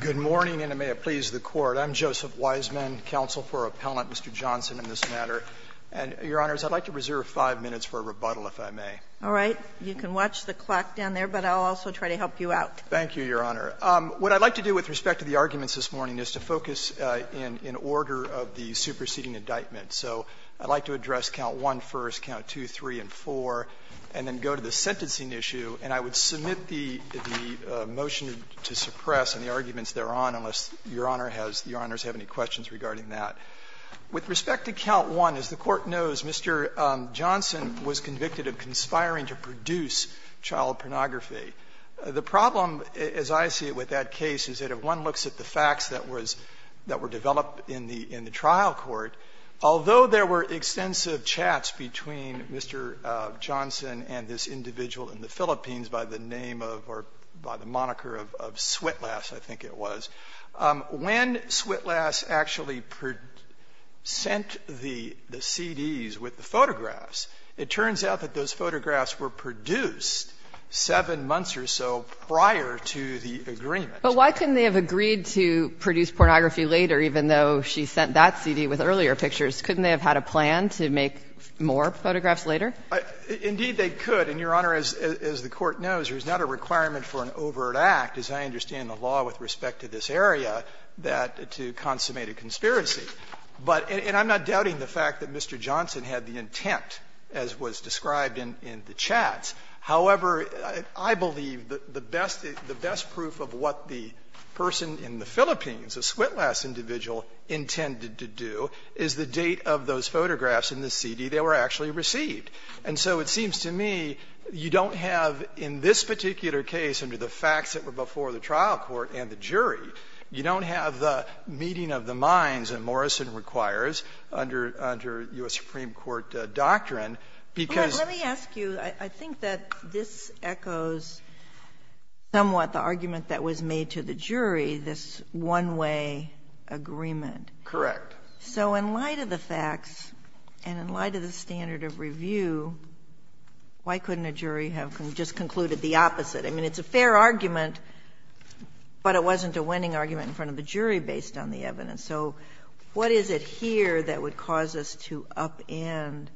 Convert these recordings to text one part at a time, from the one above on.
Good morning, and may it please the Court. I'm Joseph Wiseman, counsel for Appellant Mr. Johnston in this matter. And, Your Honors, I'd like to reserve five minutes for a rebuttal, if I may. All right. You can watch the clock down there, but I'll also try to help you out. Thank you, Your Honor. What I'd like to do with respect to the arguments this morning is to focus in order of the superseding indictment. So I'd like to address count one first, count two, three, and four, and then go to the sentencing issue, and I would submit the motion to suppress and the arguments thereon, unless Your Honor has any questions regarding that. With respect to count one, as the Court knows, Mr. Johnston was convicted of conspiring to produce child pornography. The problem, as I see it with that case, is that if one looks at the facts that were developed in the trial court, although there were extensive chats between Mr. Johnston and this individual in the Philippines by the name of or by the moniker of Switlass, I think it was, when Switlass actually sent the CDs with the photographs, it turns out that those photographs were produced seven months or so prior to the agreement. But why couldn't they have agreed to produce pornography later, even though she sent that CD with earlier pictures? Couldn't they have had a plan to make more photographs later? Indeed, they could. And, Your Honor, as the Court knows, there's not a requirement for an overt act, as I understand the law with respect to this area, that to consummate a conspiracy. But and I'm not doubting the fact that Mr. Johnston had the intent, as was described in the chats. However, I believe the best proof of what the person in the Philippines, a Switlass individual, intended to do is the date of those photographs in the CD they were actually received. And so it seems to me you don't have in this particular case under the facts that were before the trial court and the jury, you don't have the meeting of the minds that Morrison requires under U.S. Supreme Court doctrine, because. Sotomayor, let me ask you, I think that this echoes somewhat the argument that was made to the jury, this one-way agreement. Correct. So in light of the facts and in light of the standard of review, why couldn't a jury have just concluded the opposite? I mean, it's a fair argument, but it wasn't a winning argument in front of the jury based on the evidence. So what is it here that would cause us to upend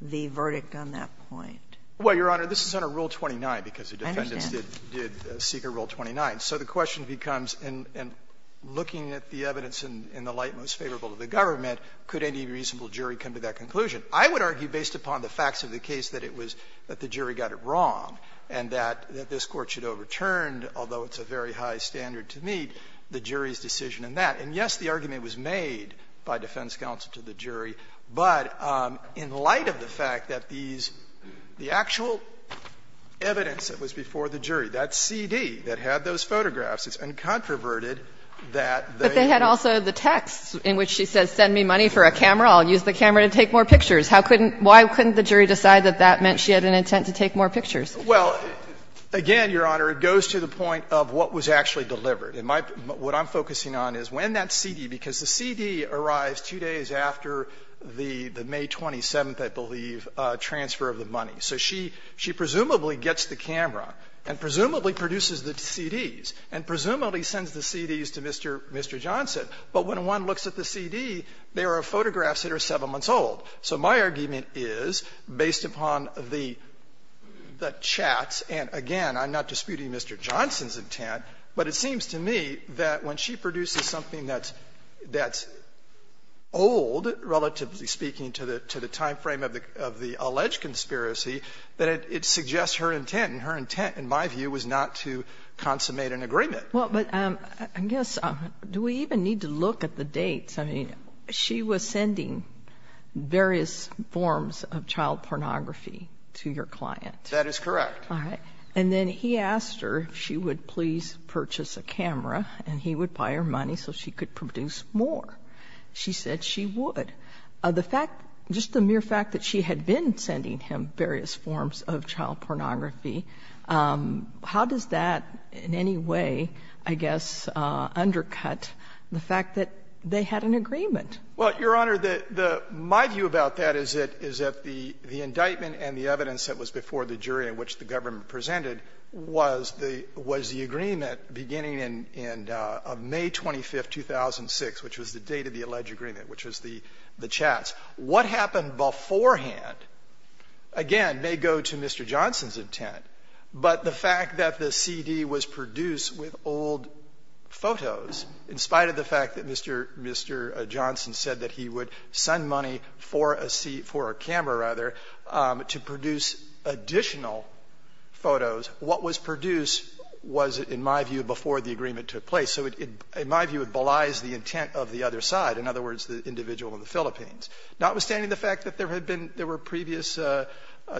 the verdict on that point? Well, Your Honor, this is under Rule 29, because the defendants did seek a Rule 29. So the question becomes, in looking at the evidence in the light most favorable to the government, could any reasonable jury come to that conclusion? I would argue, based upon the facts of the case, that it was that the jury got it wrong and that this Court should overturn, although it's a very high standard to meet, the jury's decision in that. And, yes, the argument was made by defense counsel to the jury, but in light of the fact that these the actual evidence that was before the jury, that CD that had those photographs, it's uncontroverted that they were. And so, Your Honor, if the jury had an intent to take more pictures, why couldn't the jury decide that that meant she had an intent to take more pictures? Well, again, Your Honor, it goes to the point of what was actually delivered. What I'm focusing on is when that CD, because the CD arrives two days after the May 27th, I believe, transfer of the money. So she presumably gets the camera and presumably produces the CDs and presumably sends the CDs to Mr. Johnson. But when one looks at the CD, there are photographs that are seven months old. So my argument is, based upon the chats, and again, I'm not disputing Mr. Johnson's intent, but it seems to me that when she produces something that's old, relatively speaking, to the timeframe of the alleged conspiracy, that it suggests her intent, and her intent, in my view, was not to consummate an agreement. Well, but I guess, do we even need to look at the dates? I mean, she was sending various forms of child pornography to your client. That is correct. All right. And then he asked her if she would please purchase a camera and he would buy her money so she could produce more. She said she would. The fact, just the mere fact that she had been sending him various forms of child pornography, I guess, undercut the fact that they had an agreement. Well, Your Honor, my view about that is that the indictment and the evidence that was before the jury in which the government presented was the agreement beginning in May 25, 2006, which was the date of the alleged agreement, which was the chats. What happened beforehand, again, may go to Mr. Johnson's intent, but the fact that the CD was produced with old photos, in spite of the fact that Mr. Johnson said that he would send money for a camera, rather, to produce additional photos, what was produced was, in my view, before the agreement took place. So it, in my view, belies the intent of the other side, in other words, the individual in the Philippines. Notwithstanding the fact that there had been previous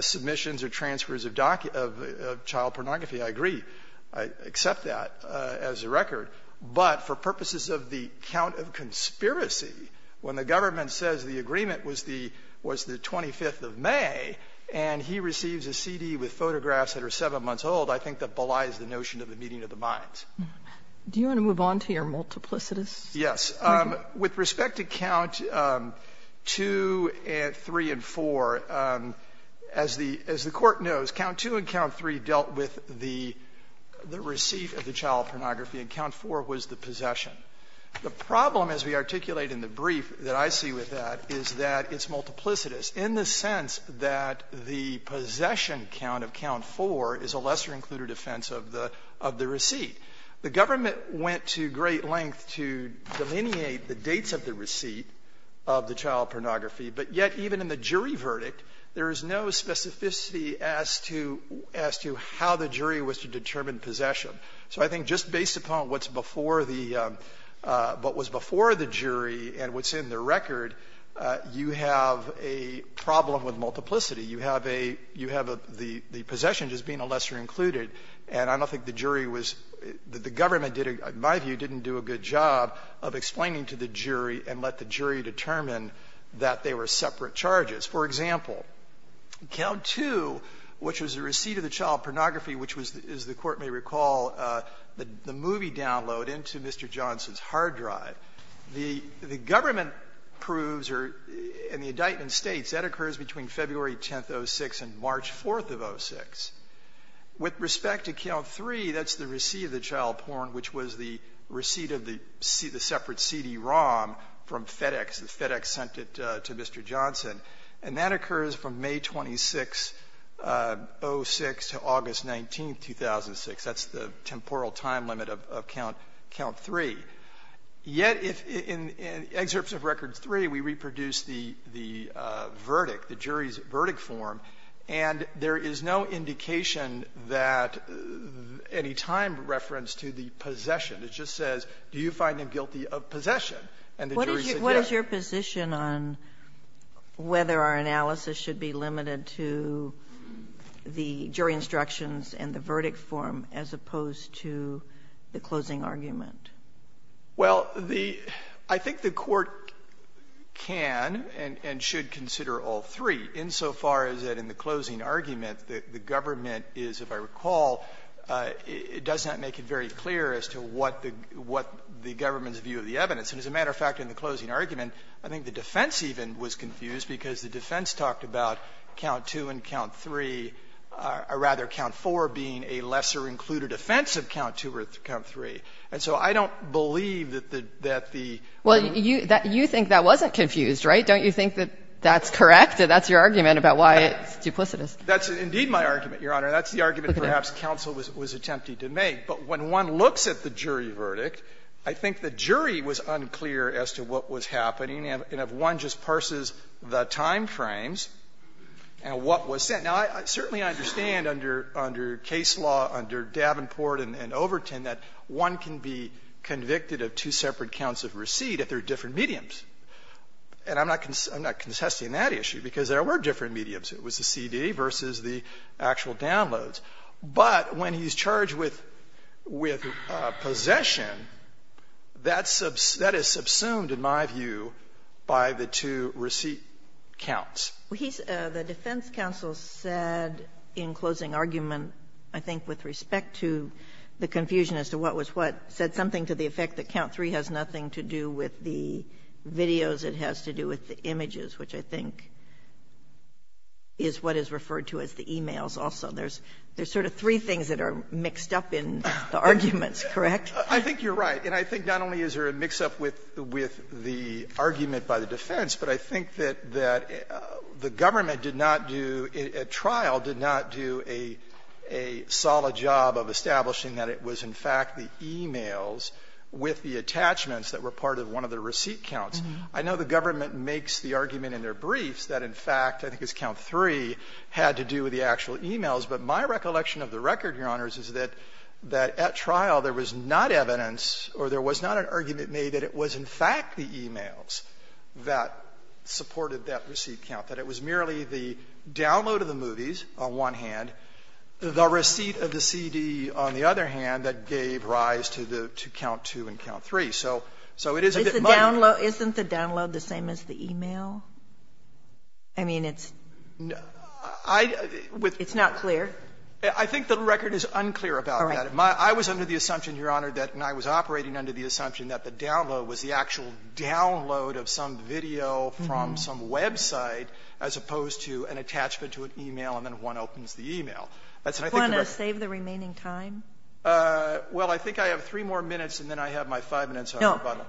submissions or transfers of child pornography, I agree, I accept that as a record, but for purposes of the count of conspiracy, when the government says the agreement was the 25th of May and he receives a CD with photographs that are 7 months old, I think that belies the notion of the meeting of the minds. Do you want to move on to your multiplicities? Yes. With respect to count 2, 3, and 4, as the Court knows, count 2, 3, and 4, as I said, count 2 and count 3 dealt with the receipt of the child pornography, and count 4 was the possession. The problem, as we articulate in the brief that I see with that, is that it's multiplicitous in the sense that the possession count of count 4 is a lesser-included offense of the receipt. The government went to great length to delineate the dates of the receipt of the child as to how the jury was to determine possession. So I think just based upon what's before the jury and what's in the record, you have a problem with multiplicity. You have a the possession just being a lesser-included, and I don't think the jury was the government did, in my view, didn't do a good job of explaining to the jury and let the jury determine that they were separate charges. For example, count 2, which was the receipt of the child pornography, which was, as the Court may recall, the movie download into Mr. Johnson's hard drive, the government proves or in the indictment states that occurs between February 10th, 06, and March 4th of 06. With respect to count 3, that's the receipt of the child porn, which was the receipt of the separate CD-ROM from FedEx, and FedEx sent it to Mr. Johnson. And that occurs from May 26, 06, to August 19, 2006. That's the temporal time limit of count 3. Yet if in excerpts of record 3, we reproduce the verdict, the jury's verdict form, and there is no indication that any time reference to the possession. It just says, do you find him guilty of possession, and the jury said yes. Sotomayor, what is your position on whether our analysis should be limited to the jury instructions and the verdict form as opposed to the closing argument? Well, the — I think the Court can and should consider all three, insofar as that in the closing argument, the government is, if I recall, it does not make it very clear as to what the government's view of the evidence. And as a matter of fact, in the closing argument, I think the defense even was confused, because the defense talked about count 2 and count 3, or rather, count 4 being a lesser included offense of count 2 or count 3. And so I don't believe that the — Well, you think that wasn't confused, right? Don't you think that that's correct? That that's your argument about why it's duplicitous? That's indeed my argument, Your Honor. That's the argument perhaps counsel was attempting to make. But when one looks at the jury verdict, I think the jury was unclear as to what was happening, and if one just parses the timeframes and what was said. Now, I certainly understand under — under case law, under Davenport and Overton, that one can be convicted of two separate counts of receipt if they're different mediums. And I'm not — I'm not contesting that issue, because there were different mediums. It was the CD versus the actual downloads. But when he's charged with — with possession, that's — that is subsumed, in my view, by the two receipt counts. Well, he's — the defense counsel said in closing argument, I think with respect to the confusion as to what was what, said something to the effect that count 3 has nothing to do with the videos. It has to do with the images, which I think is what is referred to as the e-mails also. There's sort of three things that are mixed up in the arguments, correct? I think you're right. And I think not only is there a mix-up with the argument by the defense, but I think that the government did not do, at trial, did not do a solid job of establishing that it was in fact the e-mails with the attachments that were part of one of the receipt counts. I know the government makes the argument in their briefs that in fact, I think count 3 had to do with the actual e-mails. But my recollection of the record, Your Honors, is that at trial, there was not evidence or there was not an argument made that it was in fact the e-mails that supported that receipt count, that it was merely the download of the movies, on one hand, the receipt of the CD, on the other hand, that gave rise to the — to count 2 and count 3. So it is a bit much. Isn't the download the same as the e-mail? I mean, it's not clear. I think the record is unclear about that. I was under the assumption, Your Honor, that when I was operating under the assumption that the download was the actual download of some video from some website as opposed to an attachment to an e-mail, and then one opens the e-mail. That's what I think the record is. Do you want to save the remaining time? Well, I think I have three more minutes, and then I have my five minutes on the button. No.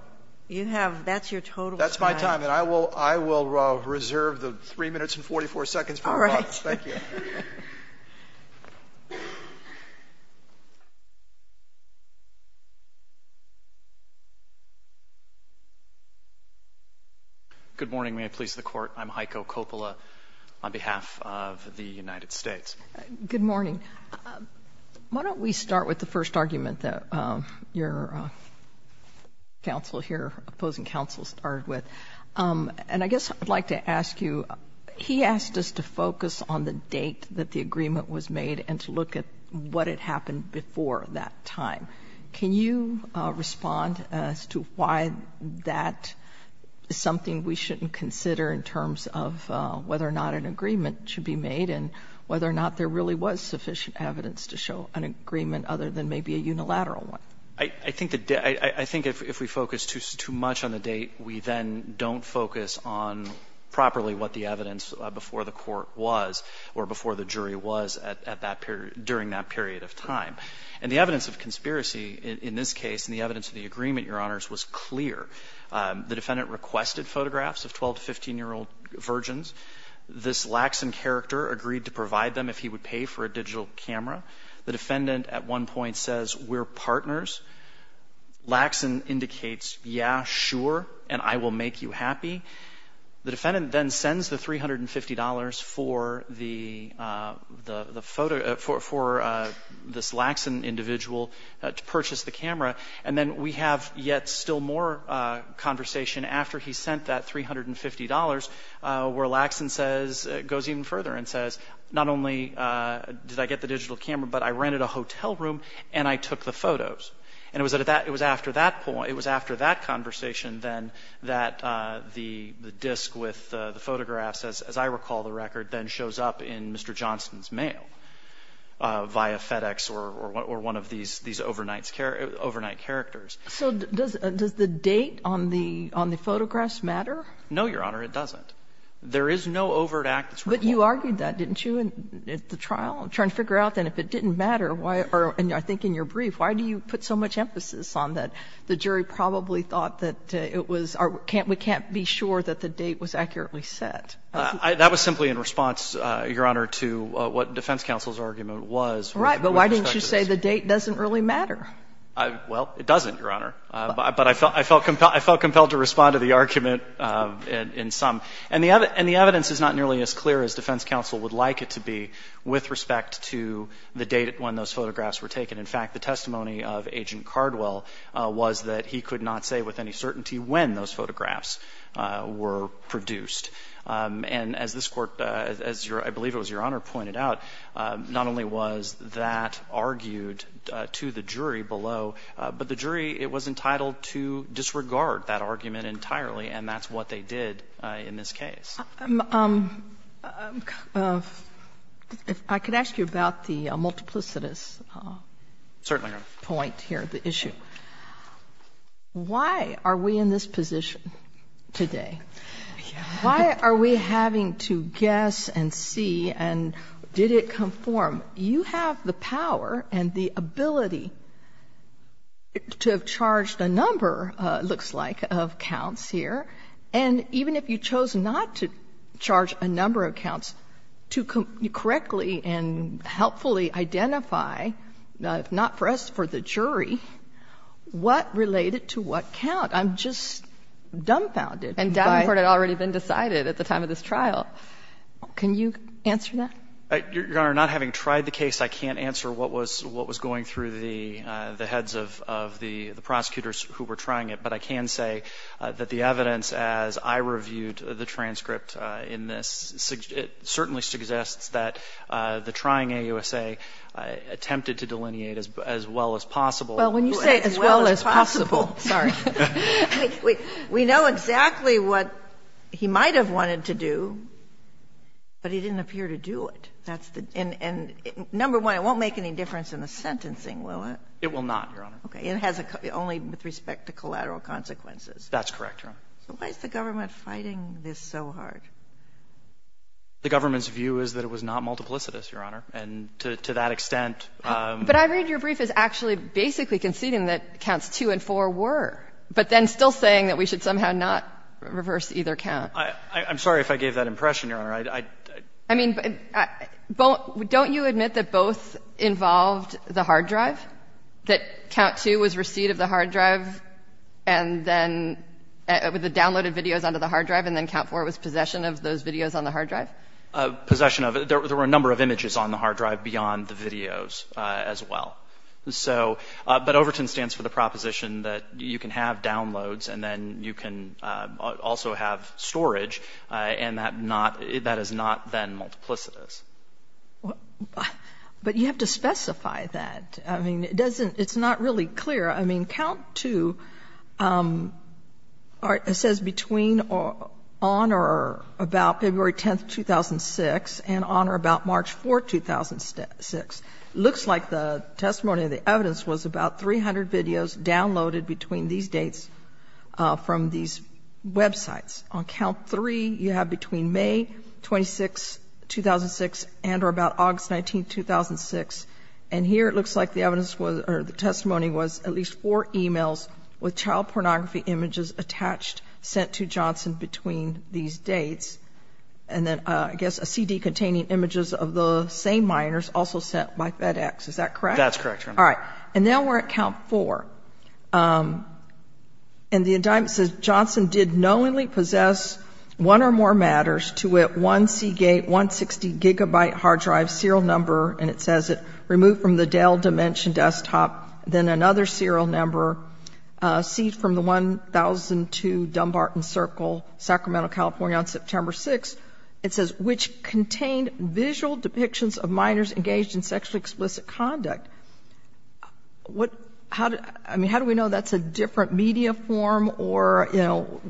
You have — that's your total time. That's my time, and I will — I will reserve the 3 minutes and 44 seconds for the button. All right. Thank you. Good morning. May it please the Court. I'm Heiko Coppola on behalf of the United States. Good morning. Why don't we start with the first argument that your counsel here, opposing counsel, started with? And I guess I'd like to ask you, he asked us to focus on the date that the agreement was made and to look at what had happened before that time. Can you respond as to why that is something we shouldn't consider in terms of whether or not an agreement should be made and whether or not there really was sufficient evidence to show an agreement other than maybe a unilateral one? I think the — I think if we focus too much on the date, we then don't focus on properly what the evidence before the court was or before the jury was at that period — during that period of time. And the evidence of conspiracy in this case and the evidence of the agreement, Your Honors, was clear. The defendant requested photographs of 12- to 15-year-old virgins. This lax in character agreed to provide them if he would pay for a digital camera. The defendant at one point says, We're partners. Laxon indicates, Yeah, sure, and I will make you happy. The defendant then sends the $350 for the photo — for this lax in individual to purchase the camera. And then we have yet still more conversation after he sent that $350 where Laxon says — goes even further and says, Not only did I get the digital camera, but I rented a hotel room and I took the photos. And it was at that — it was after that point — it was after that conversation then that the disc with the photographs, as I recall the record, then shows up in Mr. Johnson's mail via FedEx or one of these overnight characters. So does the date on the photographs matter? No, Your Honor, it doesn't. There is no overt act that's required. But you argued that, didn't you, at the trial, trying to figure out, then, if it didn't matter, why — or I think in your brief, why do you put so much emphasis on that the jury probably thought that it was — we can't be sure that the date was accurately set? That was simply in response, Your Honor, to what defense counsel's argument was with respect to this. Right, but why didn't you say the date doesn't really matter? Well, it doesn't, Your Honor. But I felt compelled to respond to the argument in some. And the evidence is not nearly as clear as defense counsel would like it to be with respect to the date when those photographs were taken. In fact, the testimony of Agent Cardwell was that he could not say with any certainty when those photographs were produced. And as this Court, as I believe it was Your Honor pointed out, not only was that argued to the jury below, but the jury, it was entitled to disregard that argument entirely, and that's what they did in this case. If I could ask you about the multiplicitous point here, the issue. Why are we in this position today? Why are we having to guess and see and did it conform? You have the power and the ability to have charged a number, it looks like, of counts here, and even if you chose not to charge a number of counts, to correctly and helpfully identify, if not for us, for the jury, what related to what count? I'm just dumbfounded. And Davenport had already been decided at the time of this trial. Can you answer that? Your Honor, not having tried the case, I can't answer what was going through the heads of the prosecutors who were trying it. But I can say that the evidence, as I reviewed the transcript in this, certainly suggests that the trying AUSA attempted to delineate as well as possible. Well, when you say as well as possible, sorry. We know exactly what he might have wanted to do, but he didn't appear to do it. And number one, it won't make any difference in the sentencing, will it? It will not, Your Honor. Okay. It has only with respect to collateral consequences. That's correct, Your Honor. So why is the government fighting this so hard? The government's view is that it was not multiplicitous, Your Honor, and to that extent they were trying to delineate. But I read your brief as actually basically conceding that counts 2 and 4 were, but then still saying that we should somehow not reverse either count. I'm sorry if I gave that impression, Your Honor. I mean, don't you admit that both involved the hard drive? That count 2 was receipt of the hard drive and then with the downloaded videos under the hard drive, and then count 4 was possession of those videos on the hard drive? Possession of it. There were a number of images on the hard drive beyond the videos as well. So, but Overton stands for the proposition that you can have downloads and then you can also have storage and that not, that is not then multiplicitous. But you have to specify that. I mean, it doesn't, it's not really clear. I mean, count 2 says between on or about February 10th, 2006 and on or about March 4th, 2006. Looks like the testimony of the evidence was about 300 videos downloaded between these dates from these websites. On count 3, you have between May 26, 2006 and or about August 19th, 2006. And here it looks like the evidence was, or the testimony was at least four emails with child pornography images attached, sent to Johnson between these dates. And then I guess a CD containing images of the same minors also sent by FedEx, is that correct? That's correct, Your Honor. All right. And now we're at count four. And the indictment says Johnson did knowingly possess one or more matters to it, one Seagate 160 gigabyte hard drive serial number. And it says it removed from the Dell Dimension desktop, then another serial number. Seed from the 1002 Dumbarton Circle, Sacramento, California on September 6th. It says, which contained visual depictions of minors engaged in sexually explicit conduct. How do we know that's a different media form or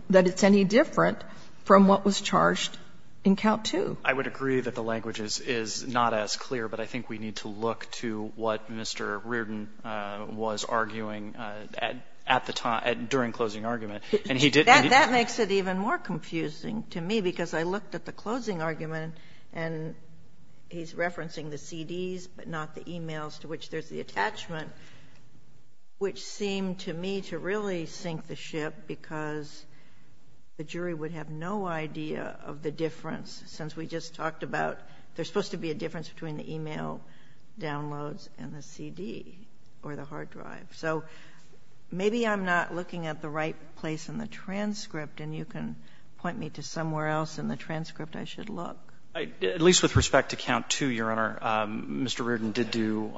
that it's any different from what was charged in count two? I would agree that the language is not as clear. But I think we need to look to what Mr. Reardon was arguing at the time, during closing argument. And he did- That makes it even more confusing to me, because I looked at the closing argument. And he's referencing the CDs, but not the emails to which there's the attachment. Which seemed to me to really sink the ship, because the jury would have no idea of the difference. Since we just talked about, there's supposed to be a difference between the email downloads and the CD, or the hard drive. So maybe I'm not looking at the right place in the transcript, and you can point me to somewhere else in the transcript I should look. At least with respect to count two, Your Honor, Mr. Reardon did do,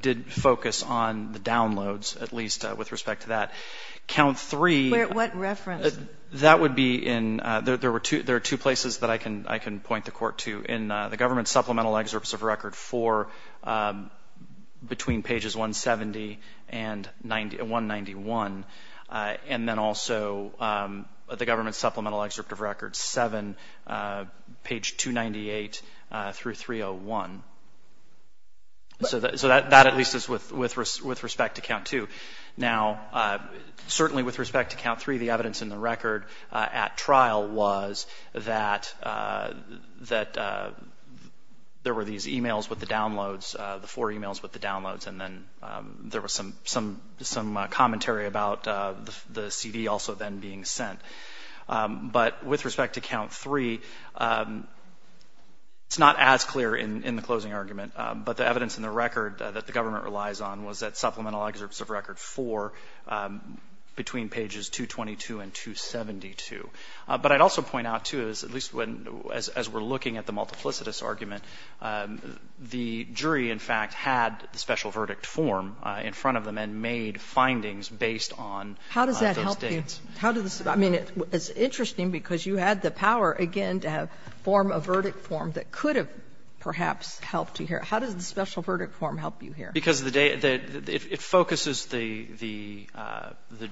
did focus on the downloads, at least with respect to that. Count three- What reference? That would be in, there are two places that I can point the court to. In the government supplemental excerpts of record four, between pages 170 and 191, and then also, the government supplemental excerpt of record seven, page 298 through 301. So that at least is with respect to count two. Now, certainly with respect to count three, the evidence in the record at trial was that there were these emails with the downloads, the four emails with the downloads. And then there was some commentary about the CD also then being sent. But with respect to count three, it's not as clear in the closing argument, but the evidence in the record that the government relies on was that supplemental excerpts of record four between pages 222 and 272. But I'd also point out too, at least as we're looking at the multiplicitous argument, the jury, in fact, had the special verdict form in front of them and made findings based on those dates. How does that help you? How does the staff? I mean, it's interesting because you had the power, again, to form a verdict form that could have perhaps helped you here. How does the special verdict form help you here? Because the data, it focuses the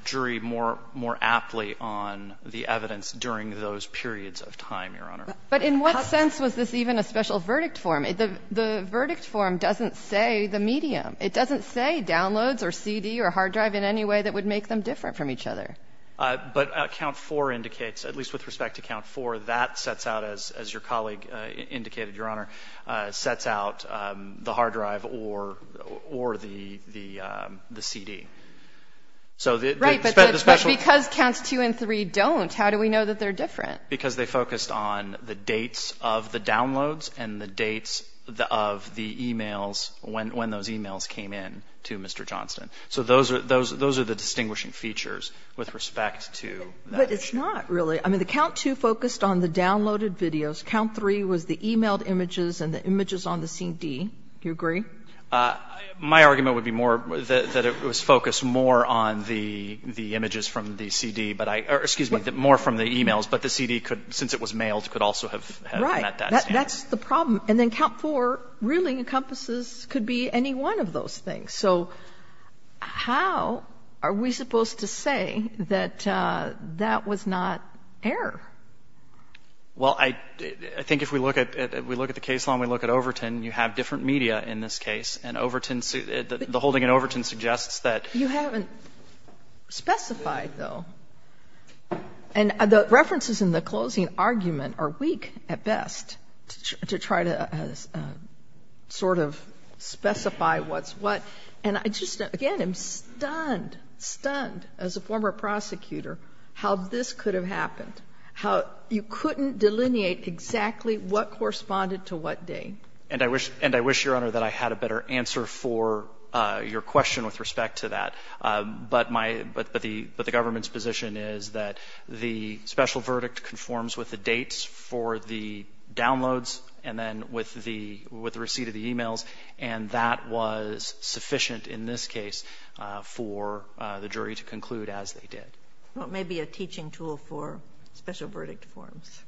jury more aptly on the evidence during those periods of time, Your Honor. But in what sense was this even a special verdict form? The verdict form doesn't say the medium. It doesn't say downloads or CD or hard drive in any way that would make them different from each other. But count four indicates, at least with respect to count four, that sets out, as your colleague indicated, Your Honor, sets out the hard drive or the CD. So the special... Right, but because counts two and three don't, how do we know that they're different? Because they focused on the dates of the downloads and the dates of the e-mails when those e-mails came in to Mr. Johnston. So those are the distinguishing features with respect to that. But it's not really. I mean, the count two focused on the downloaded videos. Count three was the e-mailed images and the images on the CD. Do you agree? My argument would be more that it was focused more on the images from the CD, but excuse me, more from the e-mails. But the CD could, since it was mailed, could also have met that standard. That's the problem. And then count four really encompasses, could be any one of those things. So how are we supposed to say that that was not error? Well, I think if we look at the case law and we look at Overton, you have different media in this case. And Overton, the holding in Overton suggests that... You haven't specified, though. And the references in the closing argument are weak, at best, to try to sort of specify what's what. And I just, again, am stunned, stunned as a former prosecutor how this could have happened, how you couldn't delineate exactly what corresponded to what day. And I wish, Your Honor, that I had a better answer for your question with respect to that. But the government's position is that the special verdict conforms with the dates for the downloads and then with the receipt of the e-mails. And that was sufficient in this case for the jury to conclude as they did. Well, it may be a teaching tool for special verdict forms.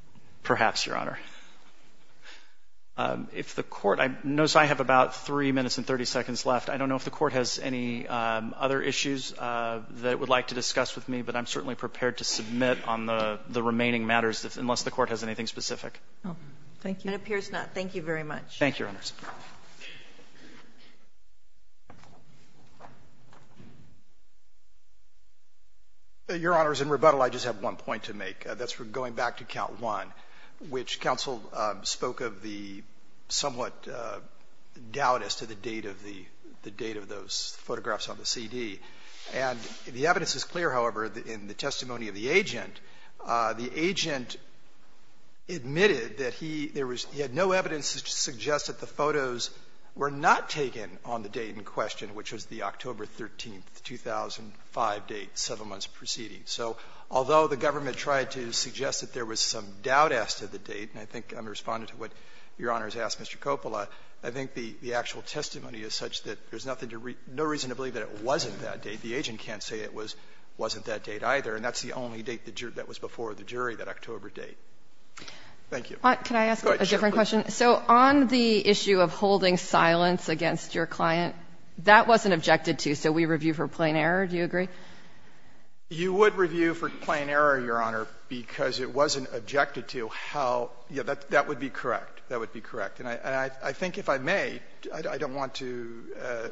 Perhaps, Your Honor. If the court... Notice I have about 3 minutes and 30 seconds left. I don't know if the court has any other issues that it would like to discuss with me, but I'm certainly prepared to submit on the remaining matters unless the court has anything specific. Thank you. It appears not. Thank you very much. Thank you, Your Honors. Your Honors, in rebuttal, I just have one point to make. That's going back to Count 1, which counsel spoke of the somewhat doubt as to the date of the date of those photographs on the CD. And the evidence is clear, however, in the testimony of the agent. The agent admitted that he had no evidence to suggest that the photos were not taken on the date in question, which was the October 13, 2005 date, 7 months preceding. So although the government tried to suggest that there was some doubt as to the date, and I think I'm responding to what Your Honors asked Mr. Coppola, I think the actual testimony is such that there's no reason to believe that it wasn't that date. The agent can't say it wasn't that date, either, and that's the only date that was before the jury, that October date. Thank you. Can I ask a different question? So on the issue of holding silence against your client, that wasn't objected to, so we review for plain error, do you agree? You would review for plain error, Your Honor, because it wasn't objected to how you That would be correct. That would be correct. And I think if I may, I don't want to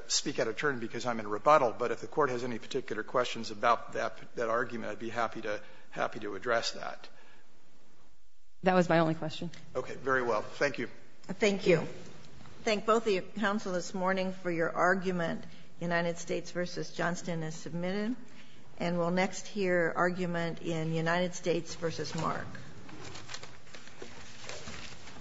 speak out of turn because I'm in rebuttal, but if the Court has any particular questions about that argument, I'd be happy to address that. That was my only question. Okay. Very well. Thank you. Thank you. Thank both of you, counsel, this morning for your argument, United States v. Johnston as submitted. And we'll next hear argument in United States v. Mark. Thank you. Thanks.